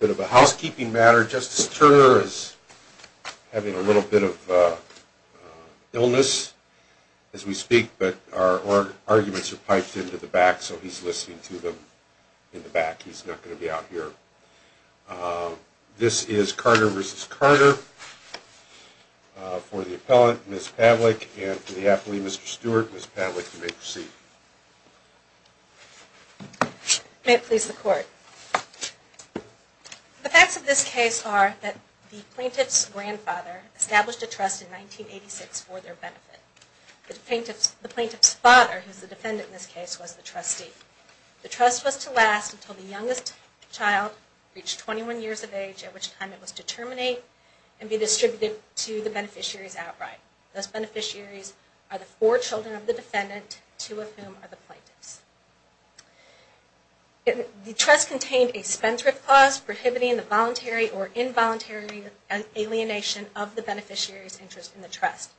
Housekeeping matter. Justice Turner is having a little bit of illness as we speak, but our arguments are piped into the back, so he's listening to them in the back. He's not going to be out here. This is Carter v. Carter. For the appellant, Ms. Pavlik, and for the appellee, Mr. Stewart, Ms. Pavlik, you may proceed. May it please the Court. The facts of this case are that the plaintiff's grandfather established a trust in 1986 for their benefit. The plaintiff's father, who is the defendant in this case, was the trustee. The trust was to last until the youngest child reached 21 years of age, at which time it was to terminate and be distributed to the beneficiaries outright. Those beneficiaries are the four children of the defendant, two of whom are the plaintiffs. The trust contained a spendthrift clause prohibiting the voluntary or involuntary alienation of the beneficiary's interest in the trust.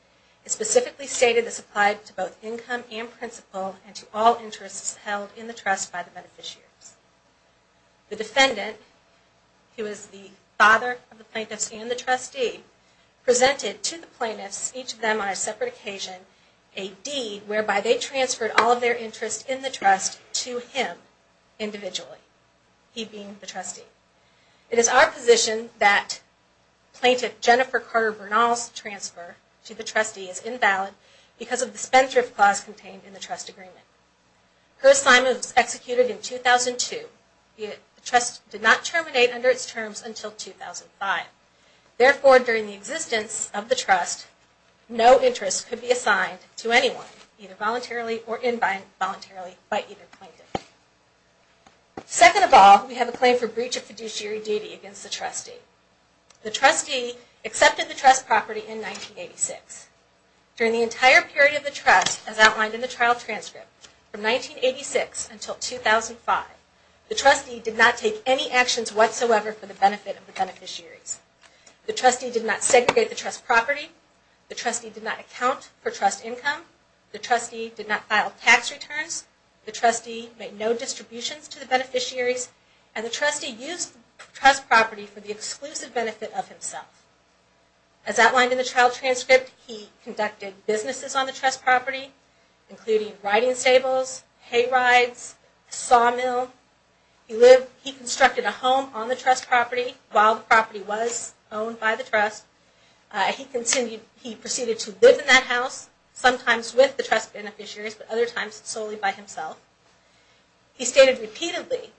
It specifically stated this applied to both income and principal and to all interests held in the trust by the beneficiaries. The defendant, who is the father of the plaintiffs and the trustee, presented to the plaintiffs, each of them on a separate occasion, a deed whereby they transferred all of their interest in the trust to him individually, he being the trustee. It is our position that plaintiff Jennifer Carter Bernal's transfer to the trustee is invalid because of the spendthrift clause contained in the trust agreement. Her assignment was executed in 2002. The trust did not terminate under its terms until 2005. Therefore, during the existence of the trust, no interest could be assigned to anyone, either voluntarily or involuntarily by either plaintiff. Second of all, we have a claim for breach of fiduciary duty against the trustee. The trustee accepted the trust property in 1986. During the entire period of the trust, as outlined in the trial transcript, from 1986 until 2005, the trustee did not take any actions whatsoever for the benefit of the beneficiaries. The trustee did not segregate the trust property, the trustee did not account for trust income, the trustee did not file tax returns, the trustee made no distributions to the beneficiaries, and the trustee used the trust property for the exclusive benefit of himself. As outlined in the trial transcript, he conducted businesses on the trust property, including riding stables, hay rides, a saw mill. He constructed a home on the trust property while the property was owned by the trust. He proceeded to live in that house, sometimes with the trust beneficiaries, but other times solely by himself. He stated repeatedly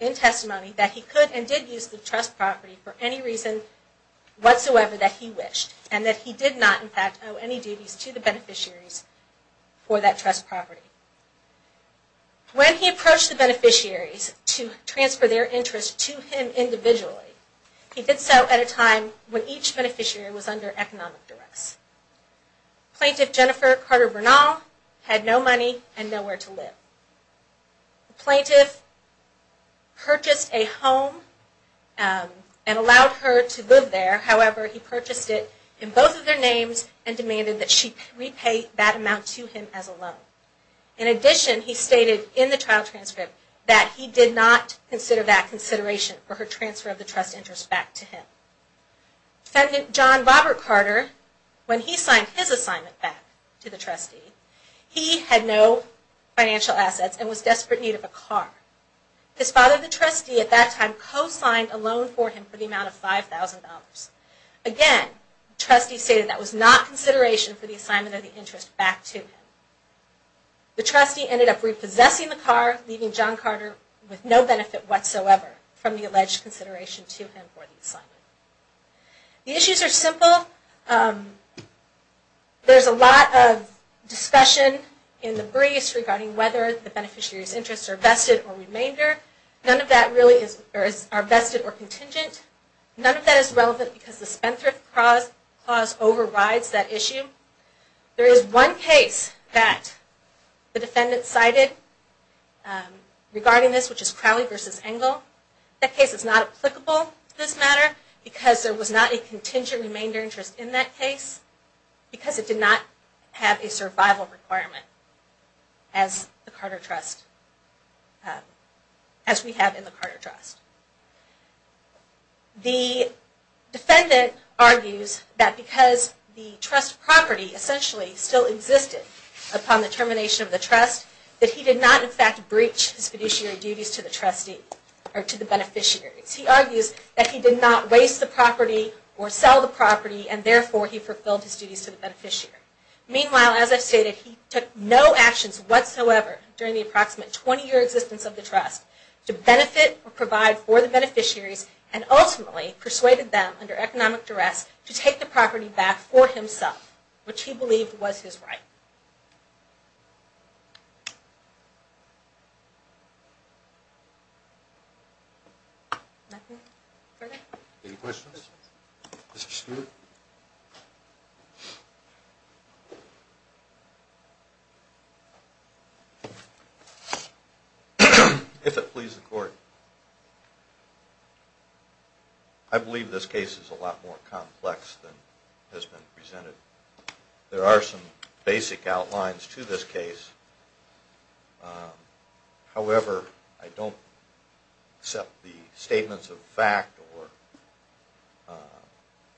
in testimony that he could and did use the trust property for any reason whatsoever that he wished, and that he did not, in fact, owe any duties to the beneficiaries for that trust property. When he approached the beneficiaries to transfer their interest to him individually, he did so at a time when each beneficiary was under economic duress. Plaintiff Jennifer Carter Bernal had no money and nowhere to live. The plaintiff purchased a home and allowed her to live there. However, he purchased it in both of their names and demanded that she repay that amount to him as a loan. In addition, he stated in the trial transcript that he did not consider that consideration for her transfer of the trust interest back to him. Defendant John Robert Carter, when he signed his assignment back to the trustee, he had no financial assets and was in desperate need of a car. His father, the trustee, at that time co-signed a loan for him for the amount of $5,000. Again, the trustee stated that was not consideration for the assignment of the interest back to him. The trustee ended up repossessing the car, leaving John Carter with no benefit whatsoever from the alleged consideration to him for the assignment. The issues are simple. There's a lot of discussion in the briefs regarding whether the beneficiaries' interests are vested or remainder. None of that really are vested or contingent. None of that is relevant because the spendthrift clause overrides that issue. There is one case that the defendant cited regarding this, which is Crowley v. Engle. That case is not applicable to this matter because there was not a contingent remainder interest in that case because it did not have a survival requirement as we have in the Carter Trust. The defendant argues that because the trust property essentially still existed upon the termination of the trust, that he did not in fact breach his fiduciary duties to the beneficiaries. He argues that he did not waste the property or sell the property and therefore he fulfilled his duties to the beneficiary. Meanwhile, as I've stated, he took no actions whatsoever during the approximate 20-year existence of the trust to benefit or provide for the beneficiaries and ultimately persuaded them under economic duress to take the property back for himself, which he believed was his right. Anything further? Any questions? Mr. Stewart? If it pleases the Court, I believe this case is a lot more complex than has been presented. There are some basic outlines to this case. However, I don't accept the statements of fact or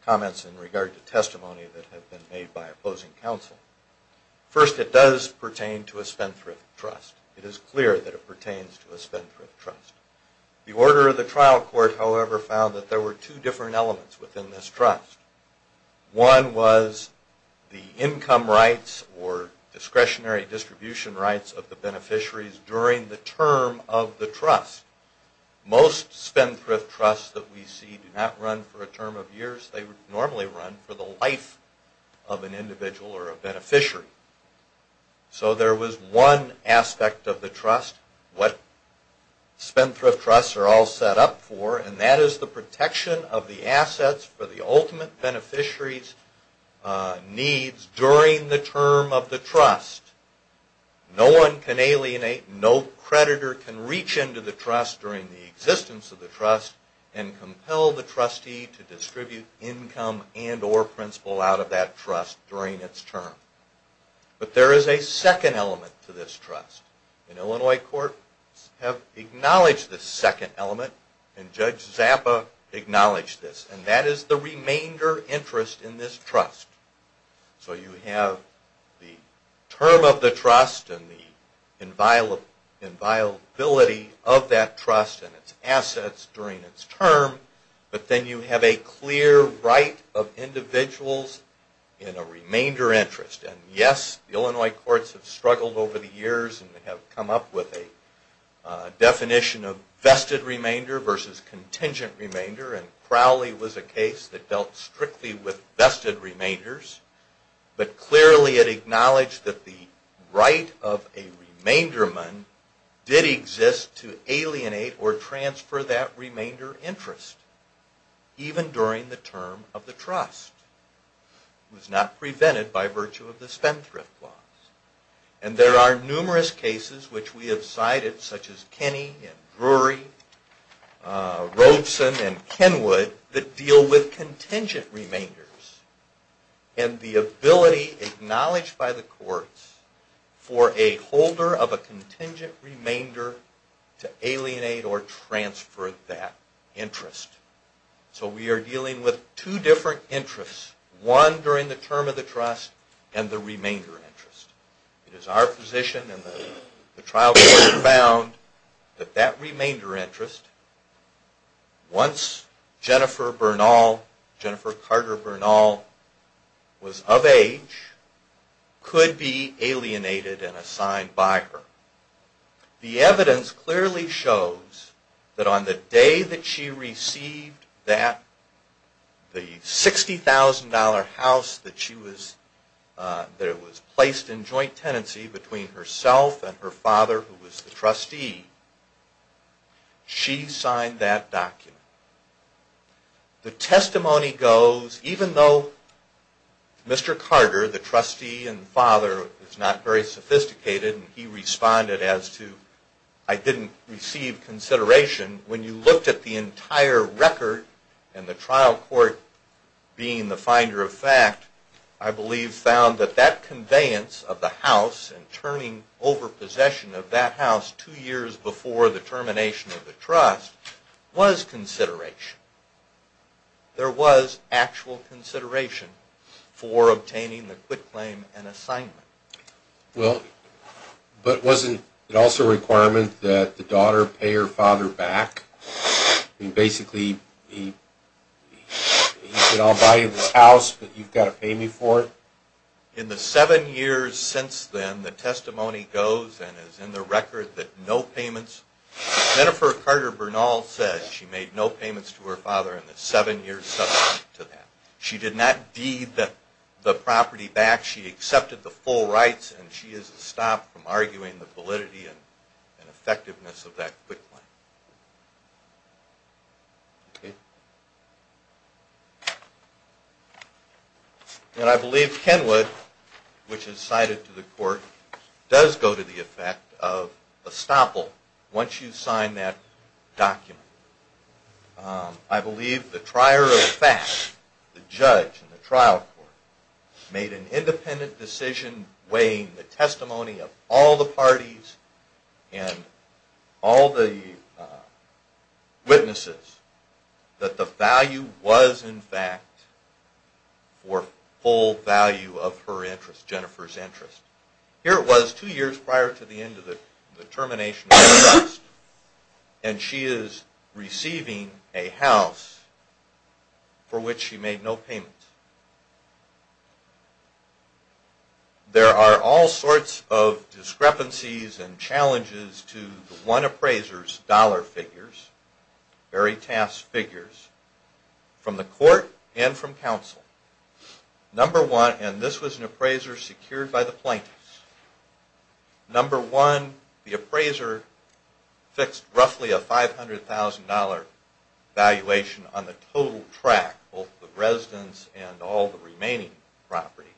comments in regard to testimony that have been made by opposing counsel. First, it does pertain to a Spendthrift Trust. It is clear that it pertains to a Spendthrift Trust. The order of the trial court, however, found that there were two different elements within this trust. One was the income rights or discretionary distribution rights of the beneficiaries during the term of the trust. Most Spendthrift Trusts that we see do not run for a term of years. They normally run for the life of an individual or a beneficiary. So there was one aspect of the trust, what Spendthrift Trusts are all set up for, and that is the protection of the assets for the ultimate beneficiary's needs during the term of the trust. No one can alienate, no creditor can reach into the trust during the existence of the trust and compel the trustee to distribute income and or principal out of that trust during its term. But there is a second element to this trust. And Illinois courts have acknowledged this second element, and Judge Zappa acknowledged this, and that is the remainder interest in this trust. So you have the term of the trust and the inviolability of that trust and its assets during its term, but then you have a clear right of individuals in a remainder interest. And yes, the Illinois courts have struggled over the years and they have come up with a definition of vested remainder versus contingent remainder, and Crowley was a case that dealt strictly with vested remainders. But clearly it acknowledged that the right of a remainderman did exist to alienate or transfer that remainder interest even during the term of the trust. It was not prevented by virtue of the spendthrift laws. And there are numerous cases which we have cited, such as Kenney and Drury, Robeson and Kenwood, that deal with contingent remainders and the ability acknowledged by the courts for a holder of a contingent remainder to alienate or transfer that interest. So we are dealing with two different interests, one during the term of the trust and the remainder interest. It is our position and the trial court found that that remainder interest, once Jennifer Carter Bernal was of age, could be alienated and assigned by her. The evidence clearly shows that on the day that she received that, the $60,000 house that was placed in joint tenancy between herself and her father, who was the trustee, she signed that document. The testimony goes, even though Mr. Carter, the trustee and father, is not very sophisticated and he responded as to, I didn't receive consideration, when you looked at the entire record and the trial court being the finder of fact, I believe found that that conveyance of the house and turning over possession of that house two years before the termination of the trust was consideration. There was actual consideration for obtaining the quit claim and assignment. Well, but wasn't it also a requirement that the daughter pay her father back? I mean, basically, he could all buy you the house, but you've got to pay me for it? In the seven years since then, the testimony goes and is in the record that no payments, Jennifer Carter Bernal said she made no payments to her father in the seven years subsequent to that. She did not deed the property back. She accepted the full rights, and she is stopped from arguing the validity and effectiveness of that quit claim. And I believe Kenwood, which is cited to the court, does go to the effect of estoppel once you sign that document. I believe the trier of fact, the judge in the trial court, made an independent decision weighing the testimony of all the parties and all the witnesses that the value was, in fact, for full value of her interest, Jennifer's interest. Here it was two years prior to the end of the termination of the trust, and she is receiving a house for which she made no payments. There are all sorts of discrepancies and challenges to the one appraiser's dollar figures, very tasked figures, from the court and from counsel. Number one, and this was an appraiser secured by the plaintiffs. Number one, the appraiser fixed roughly a $500,000 valuation on the total track, both the residence and all the remaining property,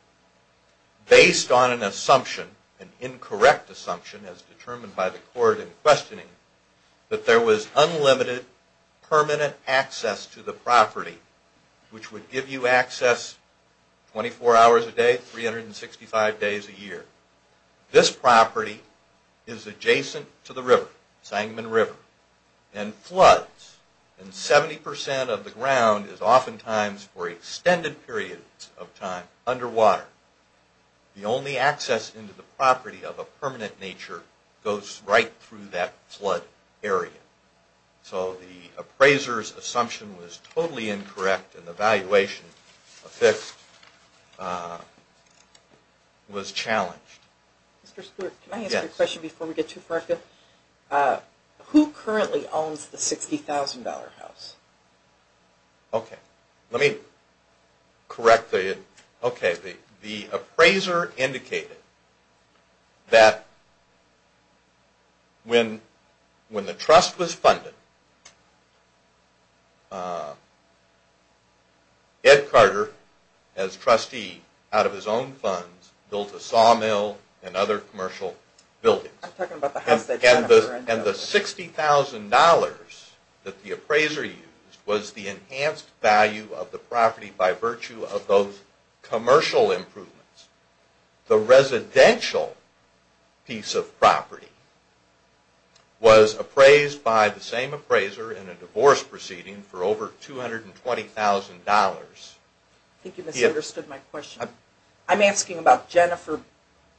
based on an assumption, an incorrect assumption as determined by the court in questioning, that there was unlimited permanent access to the property, which would give you access 24 hours a day, 365 days a year. This property is adjacent to the river, Sangamon River, and floods. And 70% of the ground is oftentimes for extended periods of time underwater. The only access into the property of a permanent nature goes right through that flood area. So the appraiser's assumption was totally incorrect, and the valuation affixed was challenged. Can I ask a question before we get too far? Who currently owns the $60,000 house? Okay, let me correct it. Okay, the appraiser indicated that when the trust was funded, Ed Carter, as trustee, out of his own funds, built a sawmill and other commercial buildings. And the $60,000 that the appraiser used was the enhanced value of the property by virtue of those commercial improvements. The residential piece of property was appraised by the same appraiser in a divorce proceeding for over $220,000. I think you misunderstood my question. I'm asking about Jennifer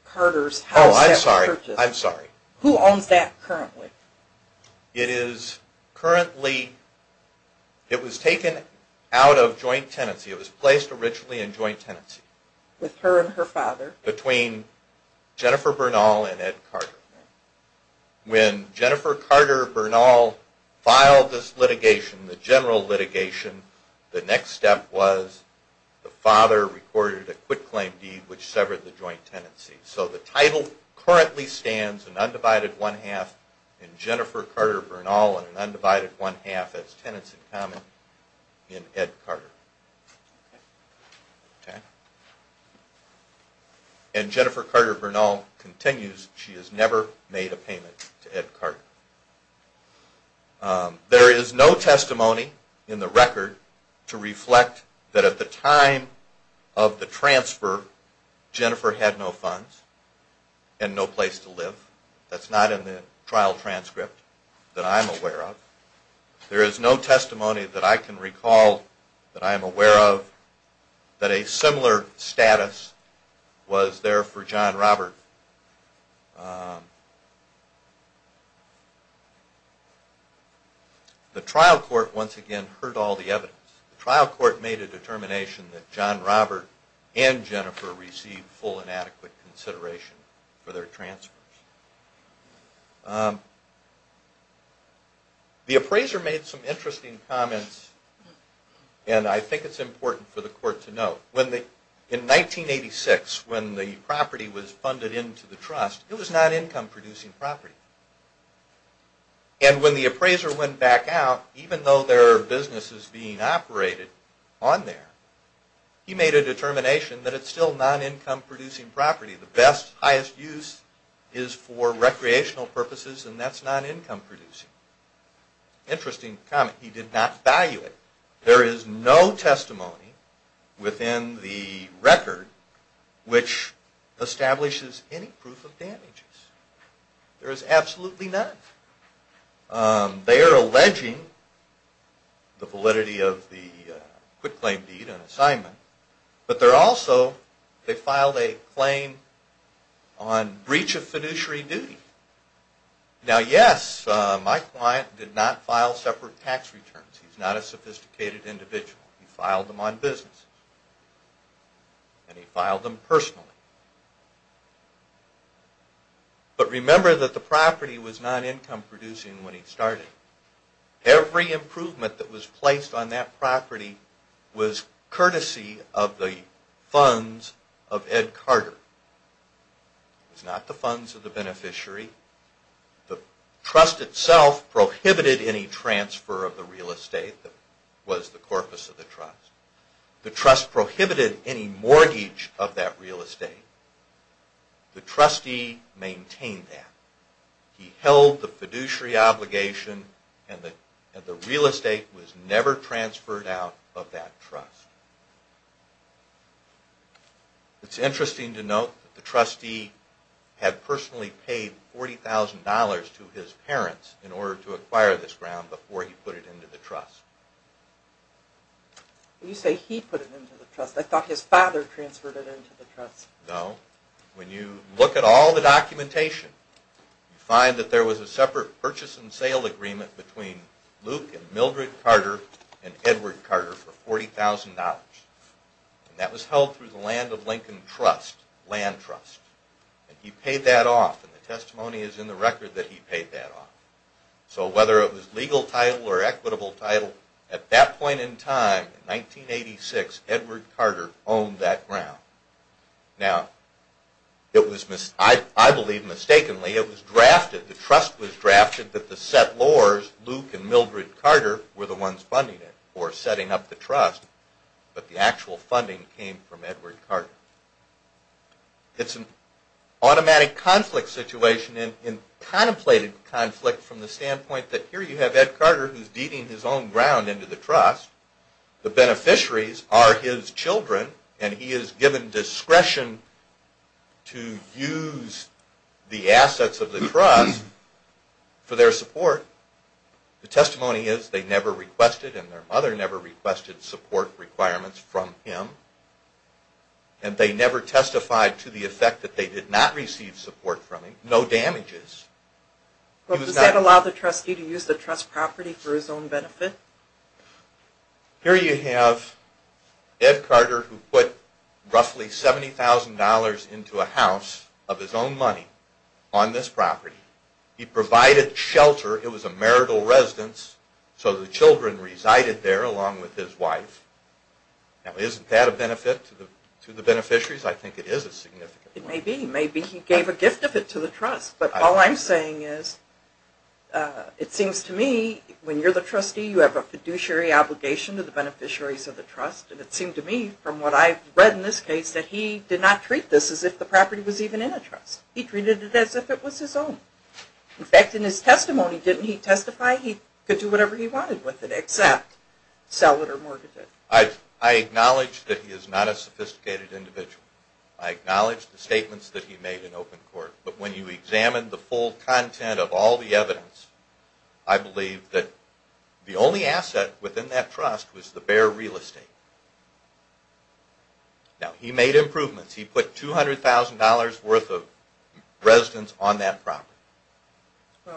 Carter's house. Oh, I'm sorry. I'm sorry. Who owns that currently? It is currently, it was taken out of joint tenancy. It was placed originally in joint tenancy. With her and her father? Between Jennifer Bernal and Ed Carter. When Jennifer Carter Bernal filed this litigation, the general litigation, the next step was the father recorded a quit-claim deed which severed the joint tenancy. So the title currently stands, an undivided one-half in Jennifer Carter Bernal and an undivided one-half as tenants-in-common in Ed Carter. And Jennifer Carter Bernal continues, she has never made a payment to Ed Carter. There is no testimony in the record to reflect that at the time of the transfer, Jennifer had no funds and no place to live. That's not in the trial transcript that I'm aware of. There is no testimony that I can recall that I am aware of that a similar status was there for John Robert. The trial court once again heard all the evidence. The trial court made a determination that John Robert and Jennifer received full and adequate consideration for their transfers. The appraiser made some interesting comments and I think it's important for the court to know. In 1986, when the property was funded into the trust, it was non-income producing property. And when the appraiser went back out, even though there are businesses being operated on there, he made a determination that it's still non-income producing property. The best, highest use is for recreational purposes and that's non-income producing. Interesting comment, he did not value it. There is no testimony within the record which establishes any proof of damages. There is absolutely none. They are alleging the validity of the quitclaim deed and assignment, but they're also, they filed a claim on breach of fiduciary duty. Now yes, my client did not file separate tax returns. He's not a sophisticated individual. He filed them on business and he filed them personally. But remember that the property was non-income producing when he started. Every improvement that was placed on that property was courtesy of the funds of Ed Carter. It was not the funds of the beneficiary. The trust itself prohibited any transfer of the real estate that was the corpus of the trust. The trust prohibited any mortgage of that real estate. The trustee maintained that. He held the fiduciary obligation and the real estate was never transferred out of that trust. It's interesting to note that the trustee had personally paid $40,000 to his parents in order to acquire this ground before he put it into the trust. You say he put it into the trust. I thought his father transferred it into the trust. No. When you look at all the documentation, you find that there was a separate purchase and sale agreement between Luke and Mildred Carter and Edward Carter for $40,000. That was held through the Land of Lincoln Trust, Land Trust. He paid that off and the testimony is in the record that he paid that off. So whether it was legal title or equitable title, at that point in time, in 1986, Edward Carter owned that ground. Now, I believe mistakenly, it was drafted, the trust was drafted that the settlors, Luke and Mildred Carter, were the ones funding it or setting up the trust. But the actual funding came from Edward Carter. It's an automatic conflict situation and contemplated conflict from the standpoint that here you have Ed Carter who's deeding his own ground into the trust. The beneficiaries are his children and he is given discretion to use the assets of the trust for their support. The testimony is they never requested and their mother never requested support requirements from him. And they never testified to the effect that they did not receive support from him. No damages. But does that allow the trustee to use the trust property for his own benefit? Here you have Ed Carter who put roughly $70,000 into a house of his own money on this property. He provided shelter, it was a marital residence, so the children resided there along with his wife. Now isn't that a benefit to the beneficiaries? I think it is a significant one. It may be. Maybe he gave a gift of it to the trust. But all I'm saying is, it seems to me, when you're the trustee, you have a fiduciary obligation to the beneficiaries of the trust. And it seemed to me, from what I've read in this case, that he did not treat this as if the property was even in a trust. He treated it as if it was his own. In fact, in his testimony, didn't he testify he could do whatever he wanted with it except sell it or mortgage it? I acknowledge that he is not a sophisticated individual. I acknowledge the statements that he made in open court. But when you examine the full content of all the evidence, I believe that the only asset within that trust was the bare real estate. Now he made improvements. He put $200,000 worth of residence on that property.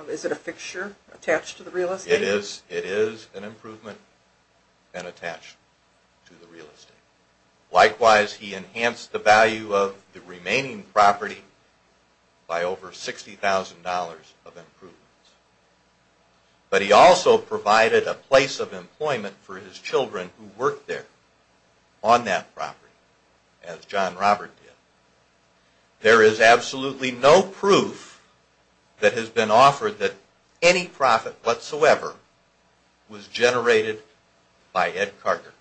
Is it a fixture attached to the real estate? It is an improvement and attached to the real estate. Likewise, he enhanced the value of the remaining property by over $60,000 of improvements. But he also provided a place of employment for his children who worked there on that property, as John Robert did. There is absolutely no proof that has been offered that any profit whatsoever was generated by Ed Carter.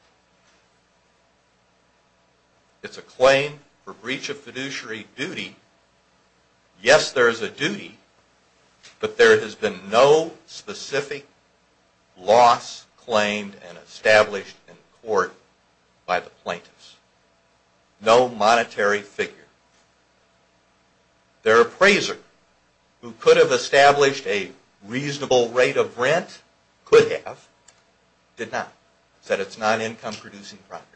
It's a claim for breach of fiduciary duty. Yes, there is a duty, but there has been no specific loss claimed and established in court by the plaintiffs. No monetary figure. Their appraiser, who could have established a reasonable rate of rent, could have, did not. He said it's non-income producing property.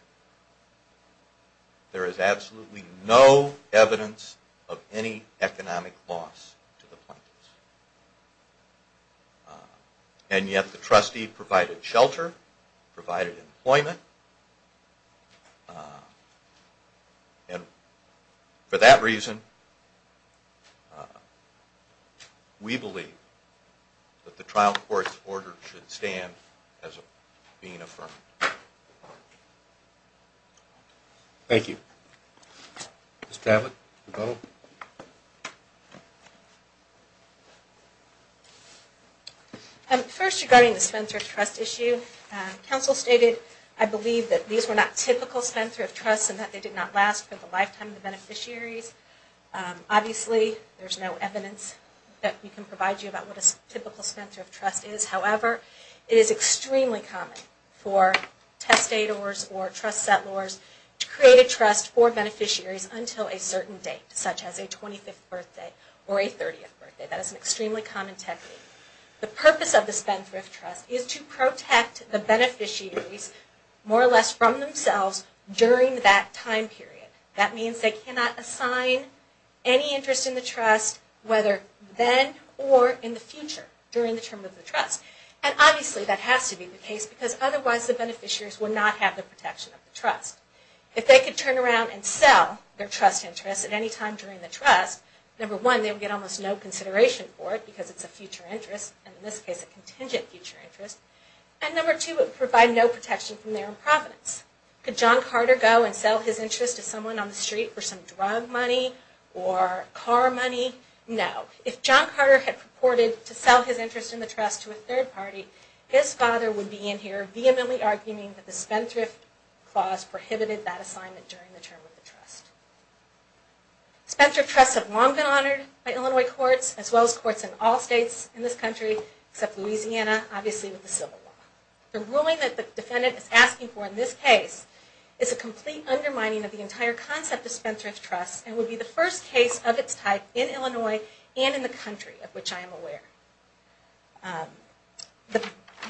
There is absolutely no evidence of any economic loss to the plaintiffs. And yet the trustee provided shelter, provided employment, and for that reason we believe that the trial court's order should stand as being affirmed. Thank you. Ms. Tavet, you go. First, regarding the Spencer of Trust issue, counsel stated I believe that these were not typical Spencer of Trusts and that they did not last for the lifetime of the beneficiaries. Obviously, there is no evidence that we can provide you about what a typical Spencer of Trust is. However, it is extremely common for testators or trust settlers to create a trust for beneficiaries until a certain date, such as a 25th birthday or a 30th birthday. That is an extremely common technique. The purpose of the Spencer of Trust is to protect the beneficiaries more or less from themselves during that time period. That means they cannot assign any interest in the trust, whether then or in the future, during the term of the trust. And obviously that has to be the case because otherwise the beneficiaries would not have the protection of the trust. If they could turn around and sell their trust interest at any time during the trust, number one, they would get almost no consideration for it because it's a future interest, and in this case a contingent future interest. And number two, it would provide no protection from their improvidence. Could John Carter go and sell his interest to someone on the street for some drug money or car money? No. If John Carter had purported to sell his interest in the trust to a third party, his father would be in here vehemently arguing that the Spendthrift Clause prohibited that assignment during the term of the trust. Spendthrift Trusts have long been honored by Illinois courts, as well as courts in all states in this country, except Louisiana, obviously with the Civil Law. The ruling that the defendant is asking for in this case is a complete undermining of the entire concept of Spendthrift Trusts, and would be the first case of its type in Illinois and in the country of which I am aware.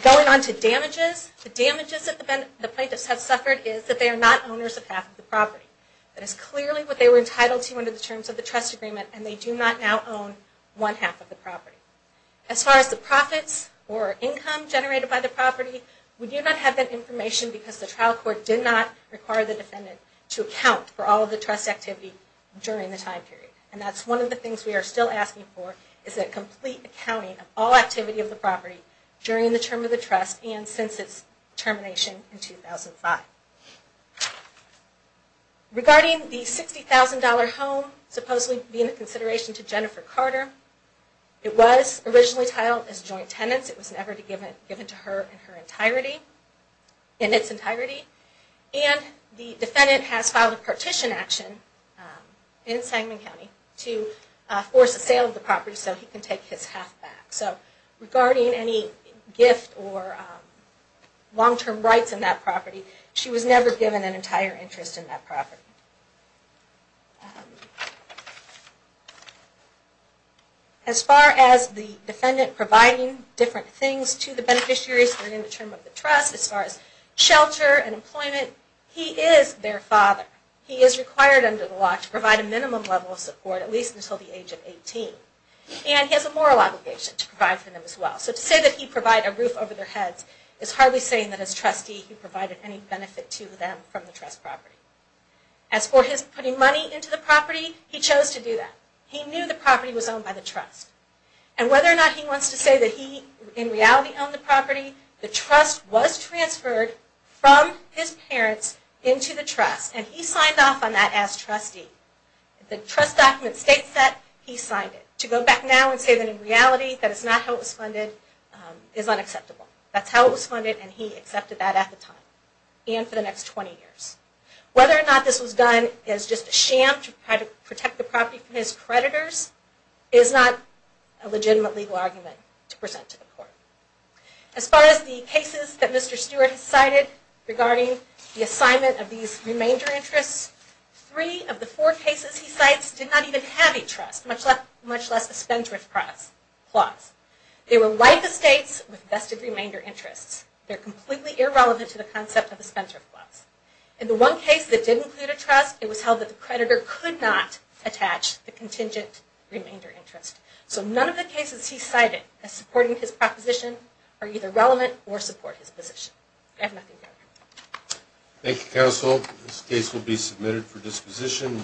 Going on to damages, the damages that the plaintiffs have suffered is that they are not owners of half of the property. That is clearly what they were entitled to under the terms of the trust agreement, and they do not now own one half of the property. As far as the profits or income generated by the property, we do not have that information because the trial court did not require the defendant to account for all of the trust activity during the time period. And that's one of the things we are still asking for, is a complete accounting of all activity of the property during the term of the trust and since its termination in 2005. Regarding the $60,000 home supposedly being a consideration to Jennifer Carter, it was originally titled as joint tenants. It was never given to her in its entirety. And the defendant has filed a partition action in Sangamon County to force a sale of the property so he can take his half back. So regarding any gift or long-term rights in that property, she was never given an entire interest in that property. As far as the defendant providing different things to the beneficiaries during the term of the trust, as far as shelter and employment, he is their father. He is required under the law to provide a minimum level of support, at least until the age of 18. And he has a moral obligation to provide for them as well. So to say that he provided a roof over their heads is hardly saying that as trustee he provided any benefit to them from the trust property. As for his putting money into the property, he chose to do that. He knew the property was owned by the trust. And whether or not he wants to say that he in reality owned the property, the trust was transferred from his parents into the trust and he signed off on that as trustee. The trust document states that he signed it. To go back now and say that in reality that is not how it was funded is unacceptable. That's how it was funded and he accepted that at the time and for the next 20 years. Whether or not this was done as just a sham to protect the property from his creditors is not a legitimate legal argument to present to the court. As far as the cases that Mr. Stewart has cited regarding the assignment of these remainder interests, three of the four cases he cites did not even have a trust, much less a Spencer clause. They were life estates with vested remainder interests. They are completely irrelevant to the concept of the Spencer clause. In the one case that did include a trust, it was held that the creditor could not attach the contingent remainder interest. So none of the cases he cited as supporting his proposition are either relevant or support his position. I have nothing further. Thank you counsel. This case will be submitted for disposition.